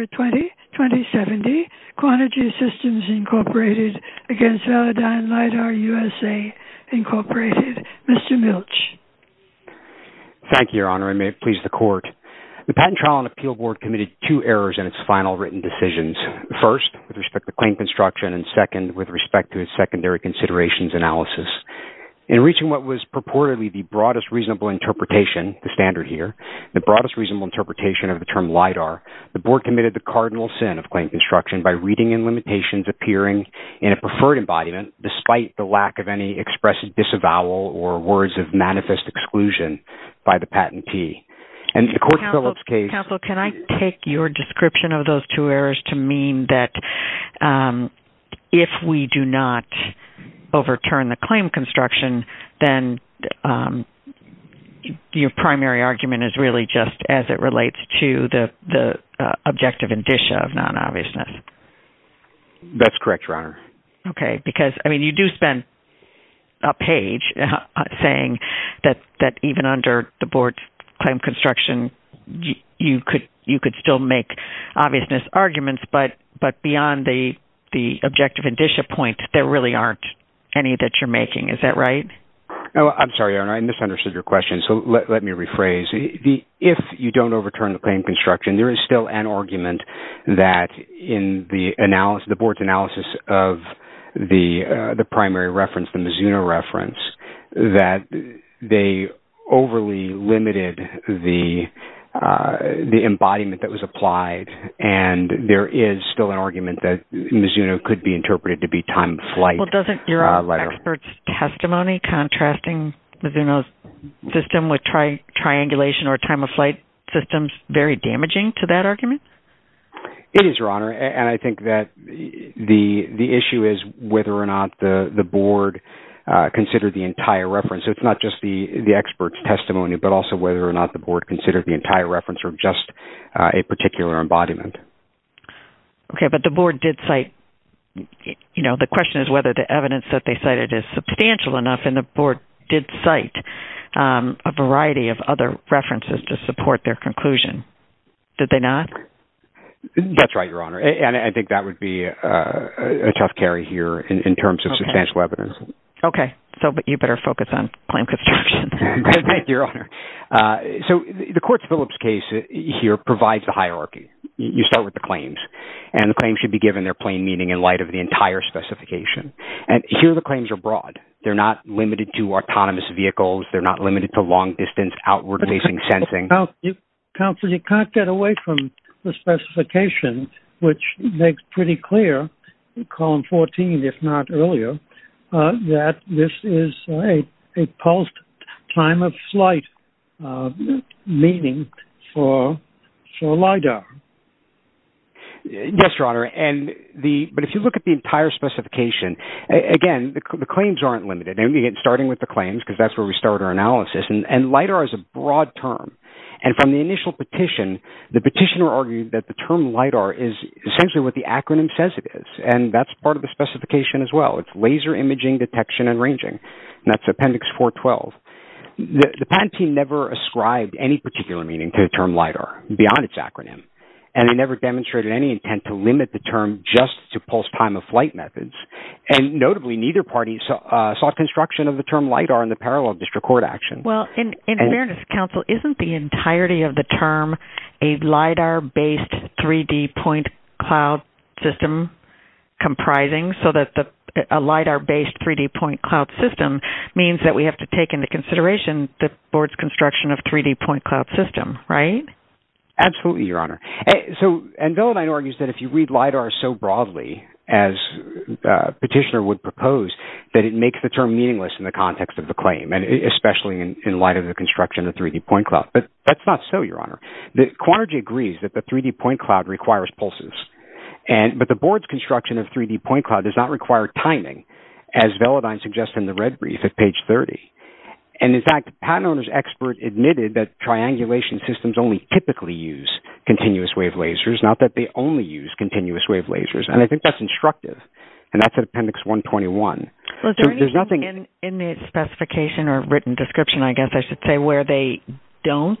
Mr. Milch. Thank you, Your Honor. I may have pleased the Court. The Patent Trial and Appeal Board committed two errors in its final written decisions. First, with respect to claim construction, and second, with respect to its secondary considerations analysis. In reaching what was purportedly the broadest reasonable interpretation here, the broadest reasonable interpretation of the term LIDAR, the Board committed the cardinal sin of claim construction by reading in limitations appearing in a preferred embodiment despite the lack of any expressive disavowal or words of manifest exclusion by the patentee. And the Court's Phillips case... Counsel, can I take your description of those two errors to mean that if we do not overturn the claim construction, then your primary argument is really just as it relates to the objective indicia of non-obviousness? That's correct, Your Honor. Okay. Because, I mean, you do spend a page saying that even under the Board's claim construction, you could still make obviousness arguments, but beyond the objective indicia point, there really aren't any that you're making. Is that right? Oh, I'm sorry, Your Honor. I misunderstood your question. So, let me rephrase. If you don't overturn the claim construction, there is still an argument that in the Board's analysis of the primary reference, the Mizuno reference, that they overly limited the embodiment that was applied, and there is still an argument that Mizuno could be interpreted to be time of flight. Well, doesn't your expert's testimony contrasting Mizuno's system with triangulation or time of flight systems very damaging to that argument? It is, Your Honor, and I think that the issue is whether or not the Board considered the entire reference. It's not just the expert's testimony, but also whether or not the Board considered the entire reference or just a particular embodiment. Okay, but the Board did cite, you know, the question is whether the evidence that they cited is substantial enough, and the Board did cite a variety of other references to support their conclusion. Did they not? That's right, Your Honor, and I think that would be a tough carry here in terms of substantial evidence. Okay. So, but you better focus on claim construction. Thank you, Your Honor. So, the Quartz-Phillips case here provides the hierarchy. You start with the claims, and the claims should be given their plain meaning in light of the entire specification. And here, the claims are broad. They're not limited to autonomous vehicles. They're not limited to long-distance outward-facing sensing. Counselor, you can't get away from the makes pretty clear in Column 14, if not earlier, that this is a post-time-of-flight meaning for LIDAR. Yes, Your Honor, but if you look at the entire specification, again, the claims aren't limited. And again, starting with the claims, because that's where we start our analysis, and LIDAR is a broad term. And from the initial petition, the petitioner argued that the term LIDAR is essentially what the acronym says it is, and that's part of the specification as well. It's laser imaging detection and ranging, and that's Appendix 412. The patent team never ascribed any particular meaning to the term LIDAR beyond its acronym, and they never demonstrated any intent to limit the term just to post-time-of-flight methods. And notably, neither party sought construction of the term LIDAR in the parallel district court action. Well, in fairness, Counsel, isn't the entirety of the term a LIDAR-based 3D point cloud system comprising, so that a LIDAR-based 3D point cloud system means that we have to take into consideration the board's construction of 3D point cloud system, right? Absolutely, Your Honor. So, and Velladine argues that if you read LIDAR so broadly as the petitioner would propose, that it makes the term meaningless in the context of the claim, especially in light of the construction of the 3D point cloud. But that's not so, Your Honor. Quantergy agrees that the 3D point cloud requires pulses, but the board's construction of 3D point cloud does not require timing, as Velladine suggests in the red brief at page 30. And in fact, the patent owner's expert admitted that triangulation systems only typically use continuous-wave lasers, not that they only use continuous-wave lasers, and I think that's Well, is there anything in the specification or written description, I guess I should say, where they don't,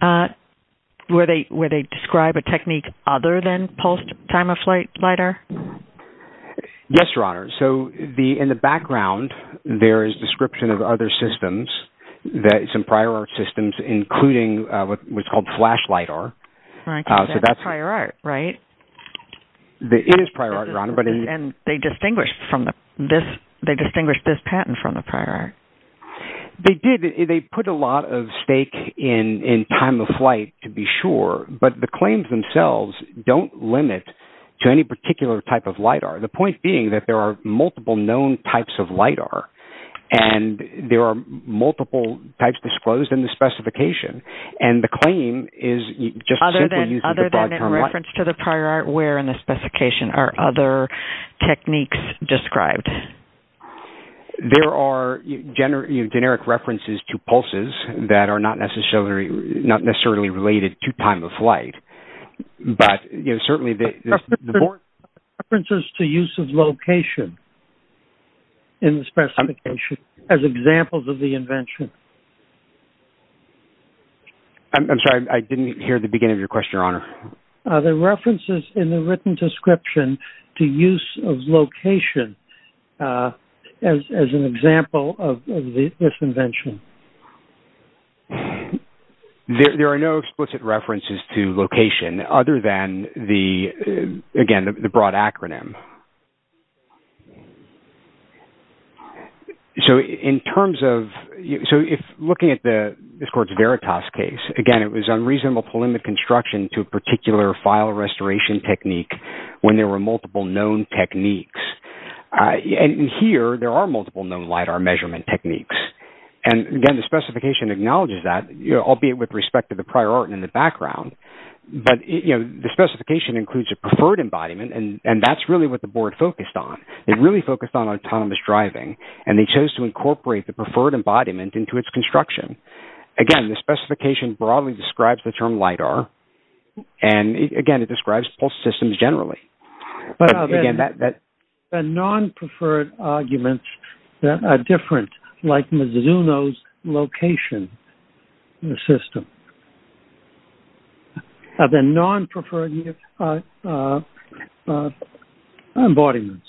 where they describe a technique other than pulsed time-of-flight LIDAR? Yes, Your Honor. So, in the background, there is description of other systems, that some prior art systems, including what's called flash LIDAR. Right, because that's prior art, right? It is prior art, Your Honor, but And they distinguished from this, they distinguished this patent from the prior art. They did, they put a lot of stake in time-of-flight, to be sure, but the claims themselves don't limit to any particular type of LIDAR. The point being that there are multiple known types of LIDAR, and there are multiple types disclosed in the specification, and the claim is just simply using the broad term LIDAR. Other than in reference to the prior art, in the specification, are other techniques described? There are generic references to pulses that are not necessarily related to time-of-flight, but certainly the references to use of location in the specification as examples of the invention. I'm sorry, I didn't hear the beginning of your question, Your Honor. Are there references in the written description to use of location as an example of this invention? There are no explicit references to location other than the, again, the broad acronym. So in terms of, so if looking at the, this court's Veritas case, again, it was unreasonable to limit construction to a particular file restoration technique when there were multiple known techniques. And here, there are multiple known LIDAR measurement techniques. And again, the specification acknowledges that, albeit with respect to the prior art in the background, but the specification includes a preferred embodiment, and that's really what the board focused on. It really focused on autonomous driving, and they chose to incorporate the preferred embodiment into its construction. Again, the specification broadly describes the term LIDAR, and again, it describes pulse systems generally. But are there non-preferred arguments that are different, like Mizuno's location system? Are there non-preferred embodiments?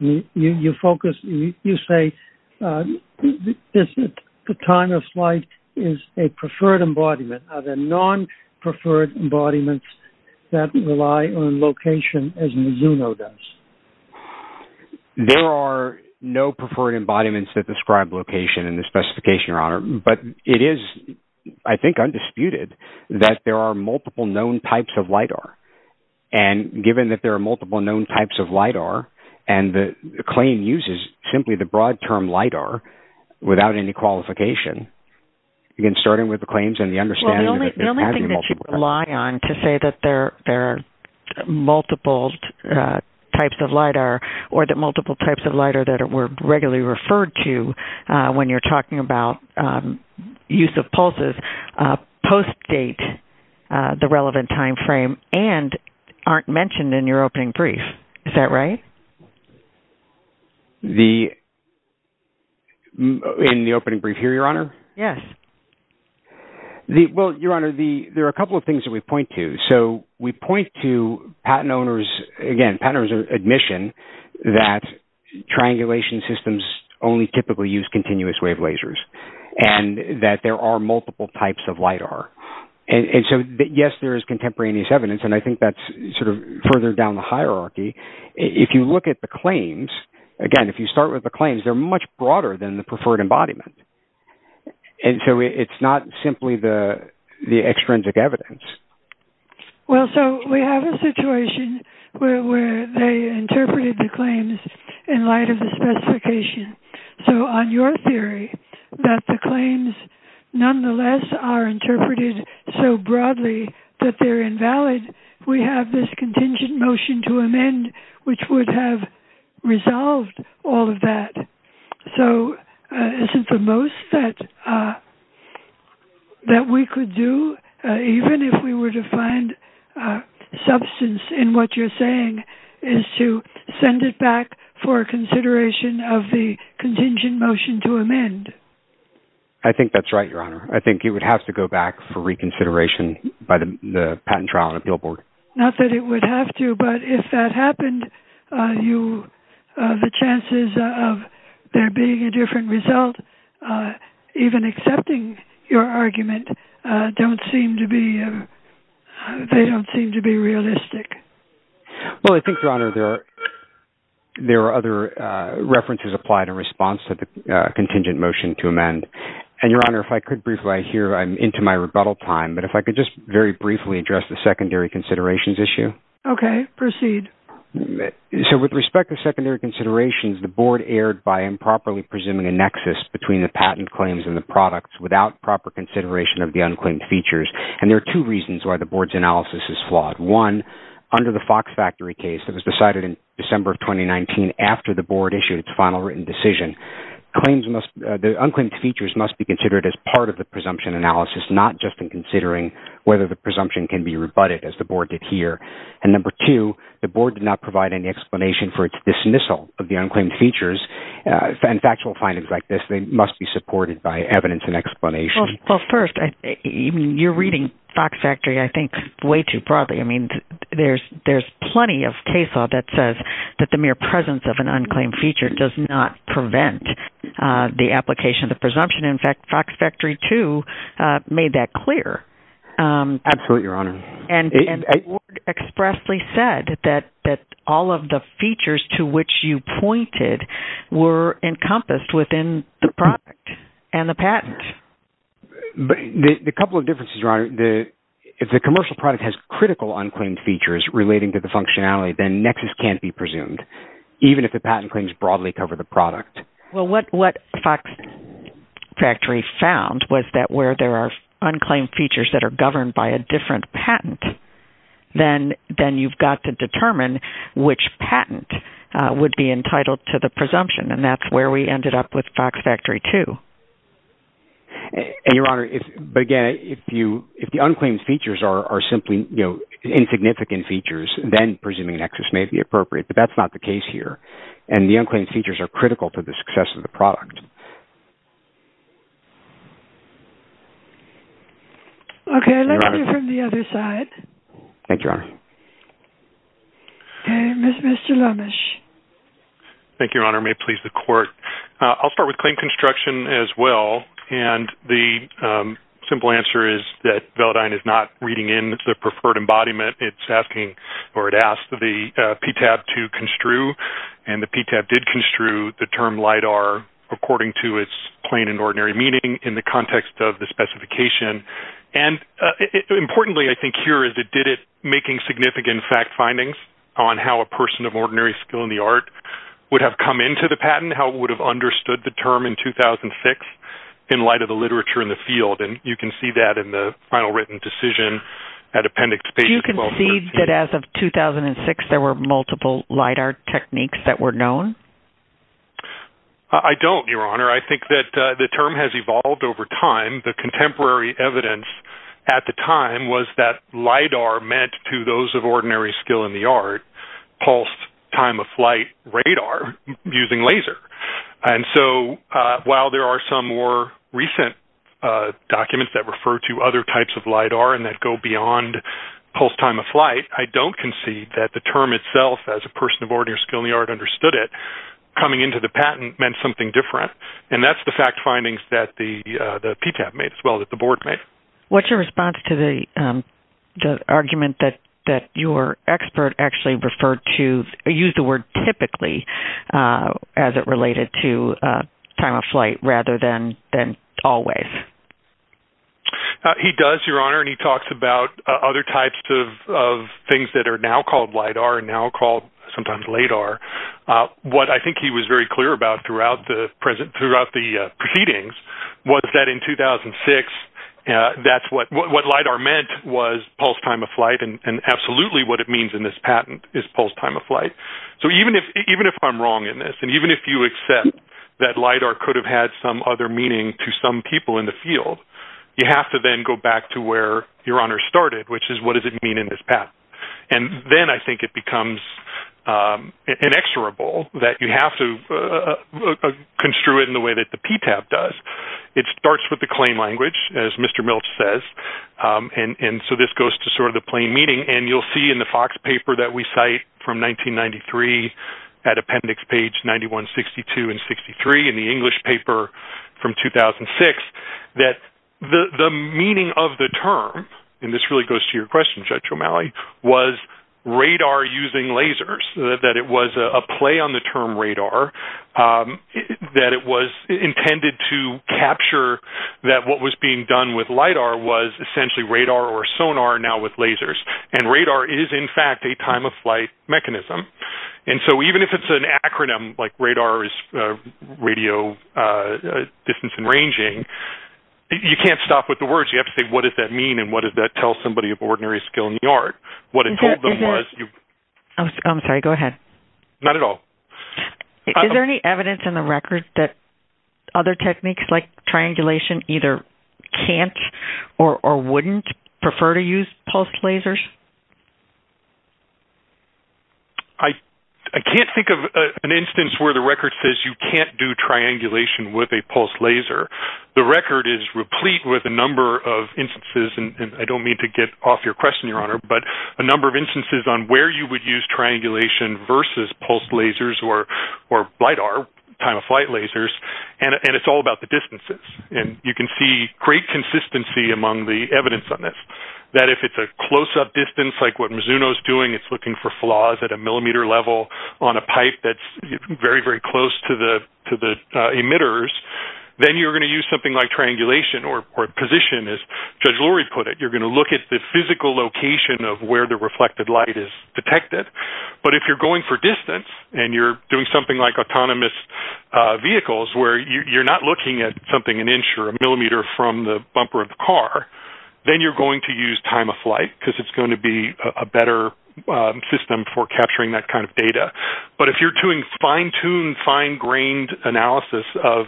You focus, you say, this time of flight is a preferred embodiment. Are there non-preferred embodiments that rely on location as Mizuno does? There are no preferred embodiments that describe location in the specification, Your Honor. But it is, I think, undisputed that there are multiple known types of LIDAR. And given that there are multiple known types of LIDAR, and the claim uses simply the broad term LIDAR without any qualification, again, starting with the claims and the understanding Well, the only thing that you rely on to say that there are multiple types of LIDAR or that multiple types of LIDAR that were regularly referred to when you're talking about use of pulses post-date the relevant time frame and aren't mentioned in your opening brief. Is that right? In the opening brief here, Your Honor? Yes. Well, Your Honor, there are a couple of things that we point to. So we point to patent owners, again, patent owners' admission that triangulation systems only typically use continuous wave lasers and that there are multiple types of LIDAR. And so, yes, there is contemporaneous evidence. And I think that's sort of further down the hierarchy. If you look at the claims, again, if you start with the claims, they're much broader than the preferred embodiment. And so it's not simply the extrinsic evidence. Well, so we have a situation where they interpreted the claims in light of the specification. So on your theory that the claims, nonetheless, are interpreted so broadly that they're invalid, we have this contingent motion to amend, which would have resolved all of that. So isn't the most that we could do, even if we were to find substance in what you're saying, is to send it back for consideration of the contingent motion to amend? I think that's right, Your Honor. I think it would have to go back for reconsideration by the patent trial and the billboard. Not that it would have to, but if that happened, the chances of there being a different result, even accepting your argument, they don't seem to be realistic. Well, I think, Your Honor, there are other references applied in response to the contingent motion to amend. And Your Honor, if I could briefly, I hear I'm into my rebuttal time, but if I could just very briefly address the secondary considerations issue. Okay, proceed. So with respect to secondary considerations, the board erred by improperly presuming a nexus between the patent claims and the products without proper consideration of the unclaimed features. And there are two reasons why the board's analysis is flawed. One, under the Fox Factory case that was decided in December of 2019 after the board issued its final written decision, the unclaimed features must be considered as part of the presumption analysis, not just in considering whether the presumption can be rebutted as the board did here. And number two, the board did not provide any explanation for its dismissal of the unclaimed features. And factual findings like this, they must be supported by evidence and explanation. Well, first, I mean, you're reading Fox Factory, I think, way too broadly. I mean, there's plenty of case law that says that the mere presence of an unclaimed feature does not prevent the application of the presumption. In fact, Fox Factory, too, made that clear. Absolutely, Your Honor. And the board expressly said that all of the features to which you pointed were encompassed within the product and the patent. But the couple of differences, Your Honor, if the commercial product has critical unclaimed features relating to the functionality, then nexus can't be presumed, even if the patent claims broadly cover the product. Well, what Fox Factory found was that where there are unclaimed features that are governed by a different patent, then you've got to determine which patent would be entitled to the presumption. And that's where we ended up with Fox Factory, too. And Your Honor, but again, if the unclaimed features are simply, you know, insignificant features, then presuming nexus may be appropriate. But that's not the case here. And the unclaimed features are critical to the success of the product. Okay, let's hear from the other side. Thank you, Your Honor. Okay, Mr. Lomash. Thank you, Your Honor. May it please the Court. I'll start with claim construction as well. And the simple answer is that Velodyne is not reading in the preferred embodiment. It's asking or it asked the PTAB to construe, and the PTAB did construe the term LIDAR according to its plain and ordinary meaning in the context of the specification. And importantly, I think here is it did it making significant fact findings on how a person of ordinary skill in the art would have come into the patent, how it would have understood the term in 2006, in light of the literature in the field. And you can see that in the final written decision at Appendix Page 1213. Do you concede that as of 2006, there were multiple LIDAR techniques that were known? I don't, Your Honor. I think that the term has evolved over time. The contemporary evidence at the time was that LIDAR meant to those of ordinary skill in the art, pulse time of flight radar using laser. And so while there are some more recent documents that refer to other types of LIDAR and that go beyond pulse time of flight, I don't concede that the term itself as a person of ordinary skill in the art understood it coming into the patent meant something different. And that's the fact findings that the PTAB made as well as the board made. What's your response to the argument that your expert actually referred to, used the word typically as it related to time of flight rather than always? He does, Your Honor, and he talks about other types of things that are now called LIDAR. What I think he was very clear about throughout the proceedings was that in 2006, that's what LIDAR meant was pulse time of flight. And absolutely what it means in this patent is pulse time of flight. So even if I'm wrong in this, and even if you accept that LIDAR could have had some other meaning to some people in the field, you have to then go back to where Your Honor started, which is what does it mean in this patent? And then I think it becomes inexorable that you have to construe it in the way that the PTAB does. It starts with the claim language, as Mr. Milch says. And so this goes to sort of the plain meaning. And you'll see in the Fox paper that we cite from 1993, at appendix page 9162 and 63 in the English paper from 2006, that the meaning of the term, and this really goes to your question, Judge O'Malley, was radar using lasers, that it was a play on the term radar, that it was intended to capture that what was being done with LIDAR was essentially radar or sonar now with lasers. And radar is, in fact, a time of flight mechanism. And so even if it's an acronym, like radar is radio distance and ranging, you can't stop with the words. You have to say, what does that mean? And what does that tell somebody of ordinary skill in the art? What it told them was- I'm sorry, go ahead. Not at all. Is there any evidence in the records that other techniques like triangulation either can't or wouldn't prefer to use pulse lasers? I can't think of an instance where the record says you can't do triangulation with a pulse laser. The record is replete with a number of instances, and I don't mean to get off your question, Your Honor, but a number of instances on where you would use triangulation versus pulse lasers or LIDAR, time of flight lasers, and it's all about the distances. And you can see great consistency among the evidence on this, that if it's a close-up distance, like what Mizuno's doing, it's looking for flaws at a millimeter level on a pipe that's very, very close to the emitters, then you're going to use something like triangulation or position, as Judge Lurie put it. You're going to look at the physical location of where the reflected light is detected. But if you're going for distance and you're doing something like autonomous vehicles where you're not looking at something an inch or a millimeter from the bumper of the car, then you're going to use time of flight because it's going to be a better system for capturing that kind of data. But if you're doing fine-tuned, fine-grained analysis of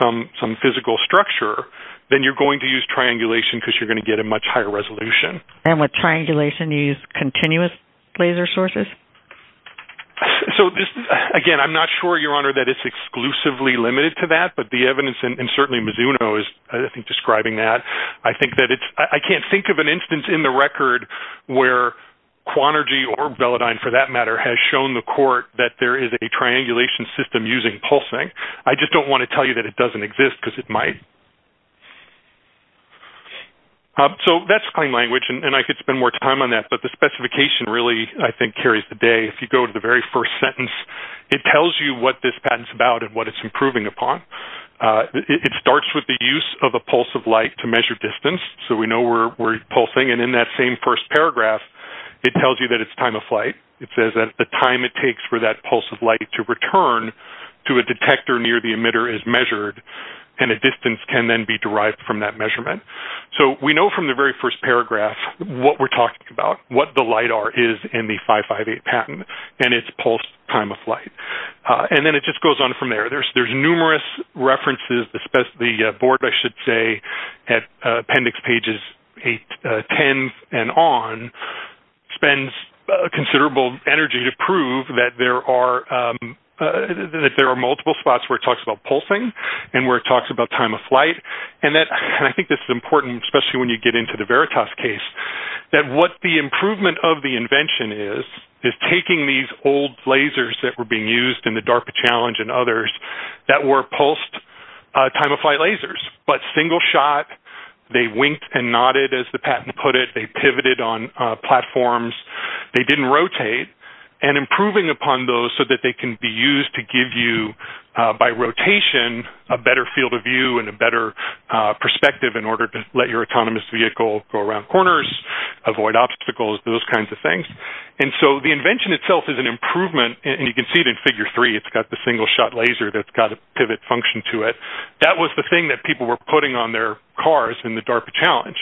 some physical structure, then you're going to use triangulation because you're going to get a much higher resolution. And with triangulation, you use continuous laser sources? So this, again, I'm not sure, Your Honor, that it's exclusively limited to that, but the evidence, and certainly Mizuno is, I think, describing that. I think that it's, I can't think of an instance in the record where Quantergy or Velodyne, for that matter, has shown the court that there is a triangulation system using pulsing. I just don't want to tell you that it doesn't exist because it might. So that's plain language, and I could spend more time on that, but the specification really, I think, carries the day. If you go to the very first sentence, it tells you what this patent's about and what it's improving upon. It starts with the use of a pulse of light to measure distance. So we know we're pulsing, and in that same first paragraph, it tells you that it's time of flight. It says that the time it takes for that pulse of light to return to a detector near the emitter is measured, and a distance can then be derived from that measurement. So we know from the very first paragraph what we're talking about, what the LIDAR is in the 558 patent, and it's pulsed time of flight. And then it just goes on from there. There's numerous references, the board, I should say, at appendix pages 10 and on, spends considerable energy to prove that there are multiple spots where it talks about pulsing and where it talks about time of flight, and I think this is important, especially when you get into the Veritas case, that what the improvement of the invention is, is taking these old lasers that were being used in the DARPA challenge and others that were pulsed time of flight lasers, but single shot. They winked and nodded, as the patent put it. They pivoted on platforms. They didn't rotate, and improving upon those so that they can be used to give you, by rotation, a better field of view and a better perspective in order to let your autonomous vehicle go around corners, avoid obstacles, those kinds of things. And so the invention itself is an improvement, and you can see it in figure three. It's got the single shot laser that's got a pivot function to it. That was the thing that people were putting on their cars in the DARPA challenge,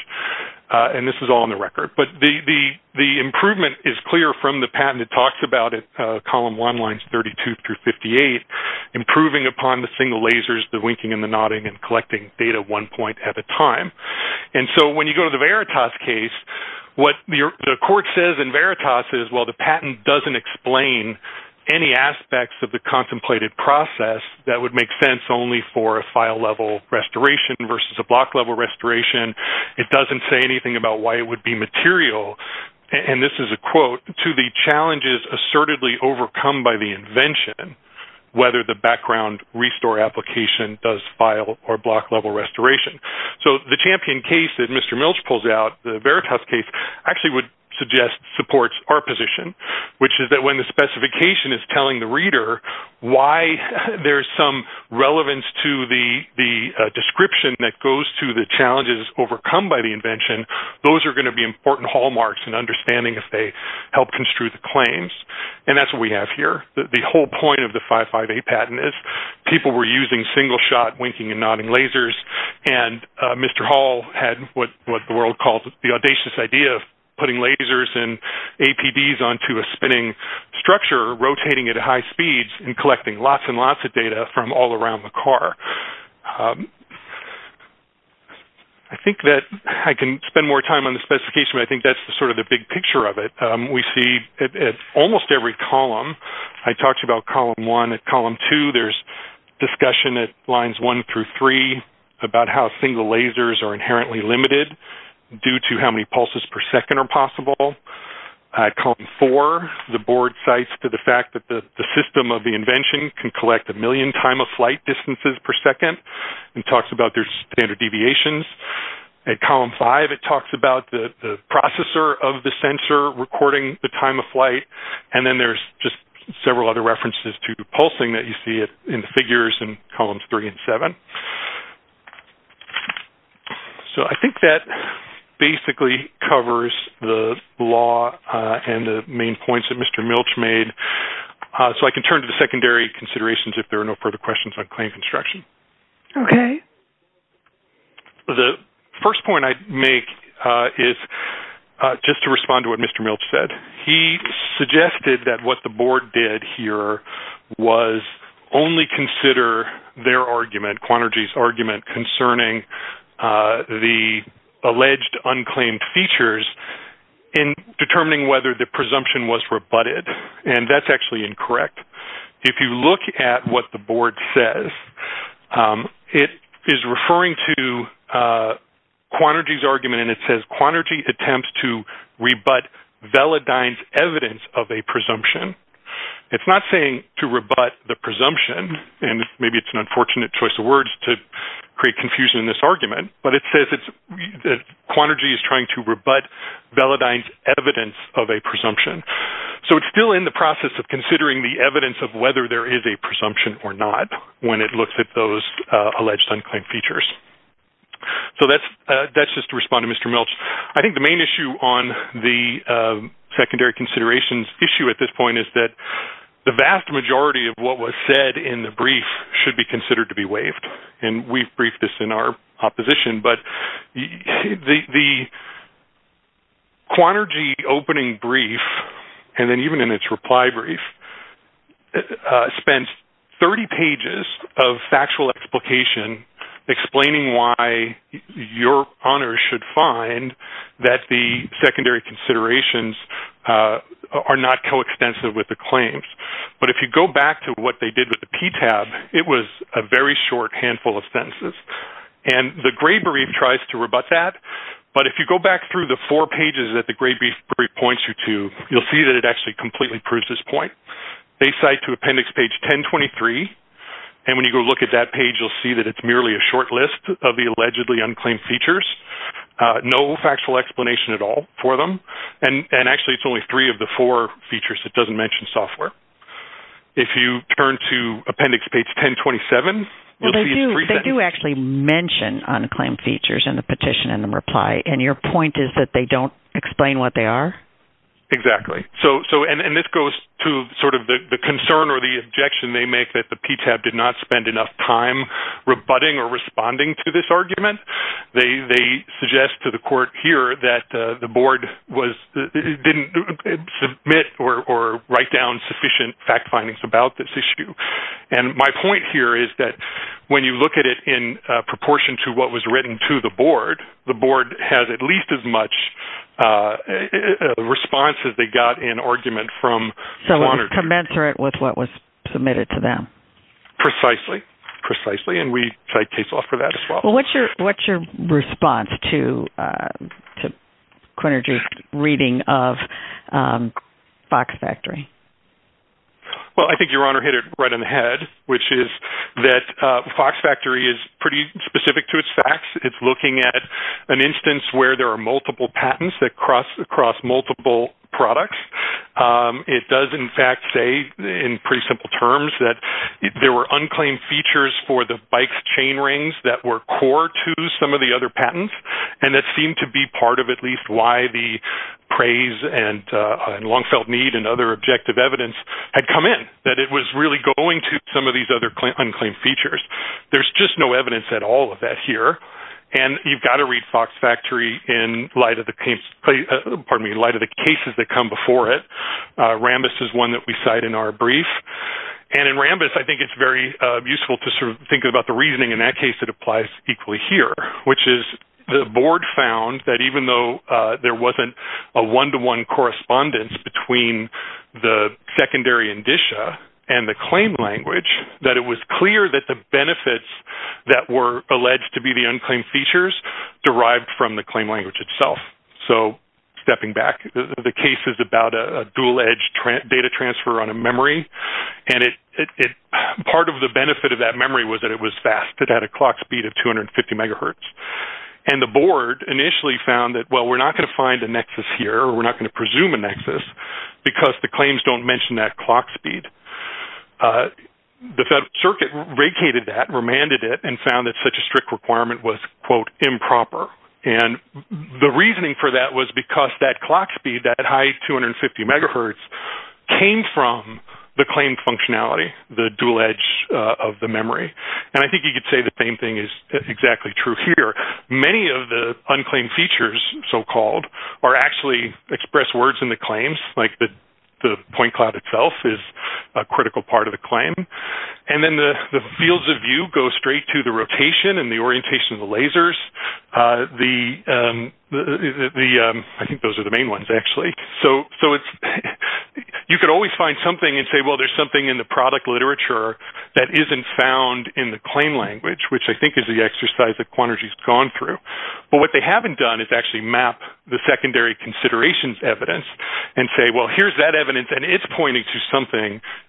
and this is all on the record. But the improvement is clear from the patent. It talks about it, column one lines 32 through 58, improving upon the single lasers, the winking and the nodding, and collecting data one point at a time. And so when you go to the Veritas case, what the court says in Veritas is, well, the patent doesn't explain any aspects of the contemplated process that would make sense only for a file-level restoration versus a block-level restoration. It doesn't say anything about why it would be material, and this is a quote to the challenges assertedly overcome by the invention, whether the background restore application does file or block-level restoration. So the Champion case that Mr. Milch pulls out, the Veritas case, actually would suggest supports our position, which is that when the specification is telling the reader why there's some relevance to the description that goes to the challenges overcome by the invention, those are going to be important hallmarks and understanding if they help construe the claims, and that's what we have here. The whole point of the 558 patent is people were using single-shot winking and nodding lasers, and Mr. Hall had what the world calls the audacious idea of putting lasers and APDs onto a spinning structure, rotating at high speeds, and collecting lots and lots of data from all around the car. I think that I can spend more time on the almost every column. I talked about column one. At column two, there's discussion at lines one through three about how single lasers are inherently limited due to how many pulses per second are possible. At column four, the board cites to the fact that the system of the invention can collect a million time-of-flight distances per second and talks about their standard deviations. At column five, it talks about the processor of the sensor recording the time of flight, and then there's just several other references to pulsing that you see in the figures in columns three and seven. So, I think that basically covers the law and the main points that Mr. Milch made, so I can turn to the secondary considerations if there are no further questions on claim construction. Okay. The first point I'd make is just to respond to what Mr. Milch said. He suggested that what the board did here was only consider their argument, Quantergy's argument, concerning the alleged unclaimed features in determining whether the presumption was rebutted, and that's actually incorrect. If you look at what the board says, it is referring to Quantergy's argument, and it says, Quantergy attempts to rebut Velodyne's evidence of a presumption. It's not saying to rebut the presumption, and maybe it's an unfortunate choice of words to create confusion in this argument, but it says that Quantergy is trying to rebut Velodyne's evidence of a presumption. So, it's still in the process of considering the evidence of whether there is a presumption or not when it looks at those alleged unclaimed features. So, that's just to respond to Mr. Milch. I think the main issue on the secondary considerations issue at this point is that the vast majority of what was said in the brief should be considered to be waived, and we've briefed this in our opposition, but the Quantergy opening brief, and then even in its reply brief, spends 30 pages of factual explication explaining why your honors should find that the secondary considerations are not coextensive with the short handful of sentences, and the Gray brief tries to rebut that, but if you go back through the four pages that the Gray brief points you to, you'll see that it actually completely proves this point. They cite to appendix page 1023, and when you go look at that page, you'll see that it's merely a short list of the allegedly unclaimed features, no factual explanation at all for them, and actually, it's only three of the four features. It doesn't mention software. If you turn to appendix page 1027, you'll see it's three sentences. They do actually mention unclaimed features in the petition in the reply, and your point is that they don't explain what they are? Exactly, and this goes to sort of the concern or the objection they make that the PTAB did not spend enough time rebutting or responding to this argument. They suggest to the court here that the board didn't submit or write down sufficient fact findings about this issue, and my point here is that when you look at it in proportion to what was written to the board, the board has at least as much response as they got in argument from... So, it's commensurate with what was submitted to them? Precisely, precisely, and we cite case law for that as well. What's your response to Quinnager's reading of Fox Factory? Well, I think Your Honor hit it right on the head, which is that Fox Factory is pretty specific to its facts. It's looking at an instance where there are multiple patents that cross across multiple products. It does, in fact, say in pretty simple terms that there were unclaimed features for the bike's chain rings that were core to some of the other patents, and that seemed to be part of at least why the praise and long-felt need and other objective evidence had come in, that it was really going to some of these other unclaimed features. There's just no evidence at all of that here, and you've got to read Fox Factory in light of the cases that come before it. Rambis is one that we cite in our brief, and in Rambis, I think it's very useful to sort of think about the reasoning. In that case, it applies equally here, which is the board found that even though there wasn't a one-to-one correspondence between the secondary indicia and the claim language, that it was clear that the benefits that were alleged to be the unclaimed features derived from the claim language itself. So, stepping back, the case is about a dual-edge data transfer on a memory, and part of the benefit of that memory was that it was fast. It had a clock speed of 250 megahertz, and the board initially found that, well, we're not going to find a nexus here, or we're not going to presume a nexus, because the claims don't mention that clock speed. The Federal Circuit vacated that, remanded it, and found that such a strict requirement was, quote, improper, and the reasoning for that was because that clock speed, that high 250 megahertz, came from the claim functionality, the dual-edge of the memory, and I think you could say the same thing is exactly true here. Many of the unclaimed features, so-called, are actually express words in the claims, like the point cloud itself is a critical part of the claim, and then the fields of view go straight to the rotation and the orientation of the lasers. I think those are the main ones, actually. So, you could always find something and say, well, there's something in the product literature that isn't found in the claim language, which I think is the exercise that Quantergy's gone through, but what they haven't done is actually map the secondary considerations evidence and say, well, here's that evidence, and it's pointing to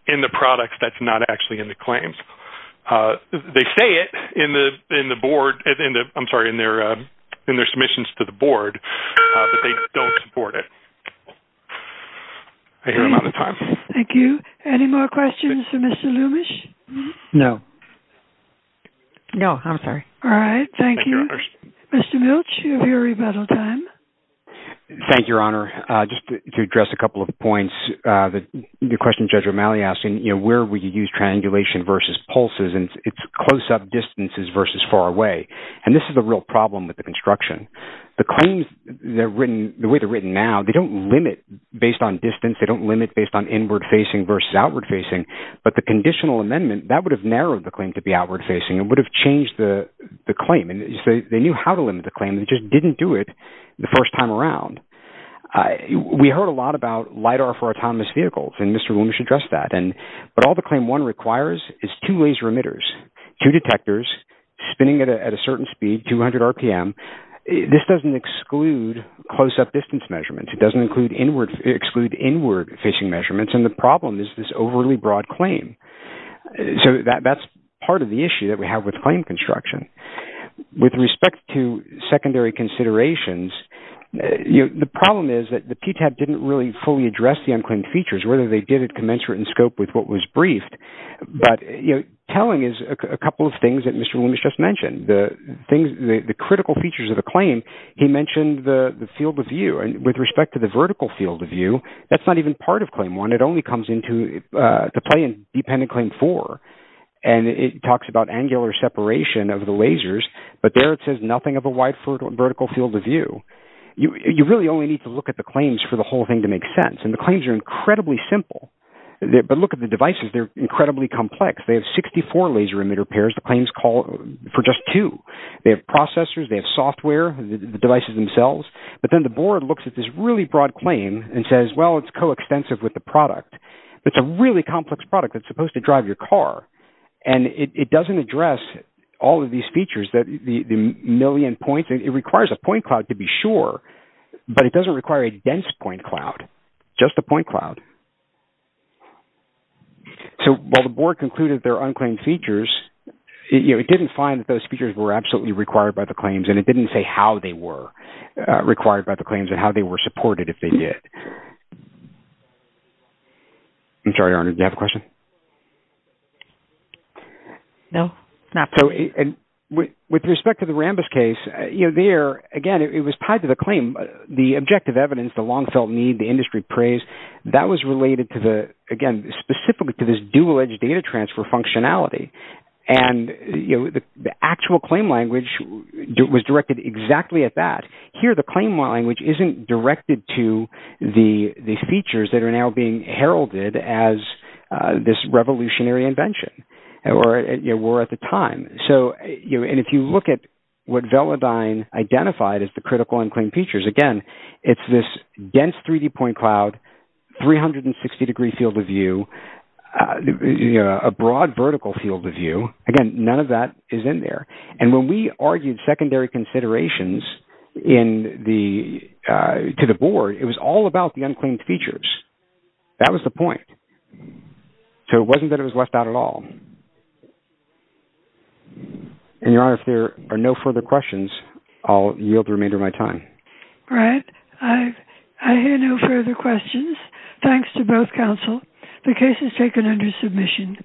in the products that's not actually in the claims. They say it in their submissions to the board, but they don't support it. I hear I'm out of time. Thank you. Any more questions for Mr. Loomish? No. No, I'm sorry. All right. Thank you. Mr. Milch, you have your rebuttal time. Thank you, Your Honor. Just to address a couple of points, the question Judge O'Malley asked, you know, where would you use triangulation versus pulses, and it's close-up distances versus far away, and this is a real problem with the construction. The claims, the way they're written now, they don't limit based on distance. They don't limit based on inward-facing versus outward-facing, but the conditional amendment, that would have narrowed the claim to be outward-facing and would have changed the claim, and they knew how to limit the claim. They just didn't do it the first time around. We heard a lot about LIDAR for autonomous vehicles, and Mr. Loomish addressed that, but all the Claim 1 requires is two laser emitters, two detectors spinning at a certain speed, 200 RPM. This doesn't exclude close-up distance measurements. It doesn't exclude inward-facing measurements, and the problem is this overly broad claim. So that's part of the issue that we have with claim construction. With respect to secondary considerations, the problem is that the PTAB didn't really fully address the unclaimed features, whether they did it commensurate in scope with what was briefed, but, you know, telling is a couple of things that Mr. Loomish just mentioned. The critical features of the claim, he mentioned the field of view, and with respect to the vertical field of view, that's not even part of Claim 1. It only comes into play in dependent Claim 4, and it talks about angular separation of the lasers, but there it says nothing of a wide vertical field of view. You really only need to look at the claims for the whole thing to make sense, and the claims are incredibly simple, but look at the devices. They're incredibly complex. They have 64 laser emitter pairs. The claims call for just two. They have processors. They have software, the devices themselves, but then the board looks at this really broad claim and says, well, it's coextensive with the product. It's a really complex product that's supposed to drive your car, and it doesn't address all of these features, the million points. It requires a point cloud to be sure, but it doesn't require a dense point cloud, just a point cloud. So, while the board concluded there are unclaimed features, it didn't find that those features were absolutely required by the claims, and it didn't say how they were required by the claims and how they were supported if they did. I'm sorry, Arne, did you have a question? No, not really. And with respect to the Rambus case, you know, there, again, it was tied to the claim, the objective evidence, the long-felt need, the industry praise. That was related to the, again, specifically to this dual-edge data transfer functionality, and, you know, the actual claim language was directed exactly at that. Here, the claim language isn't directed to the features that are now being heralded as this revolutionary invention, or were at the time. So, and if you look at what Velodyne identified as the critical unclaimed features, again, it's this dense 3D point cloud, 360-degree field of view, a broad vertical field of view. Again, none of that is in there. And when we argued secondary considerations to the board, it was all about the unclaimed features. That was the point. So, it wasn't that it was left out at all. And, Your Honor, if there are no further questions, I'll yield the remainder of my time. All right. I hear no further questions. Thanks to both counsel. The case is taken under submission.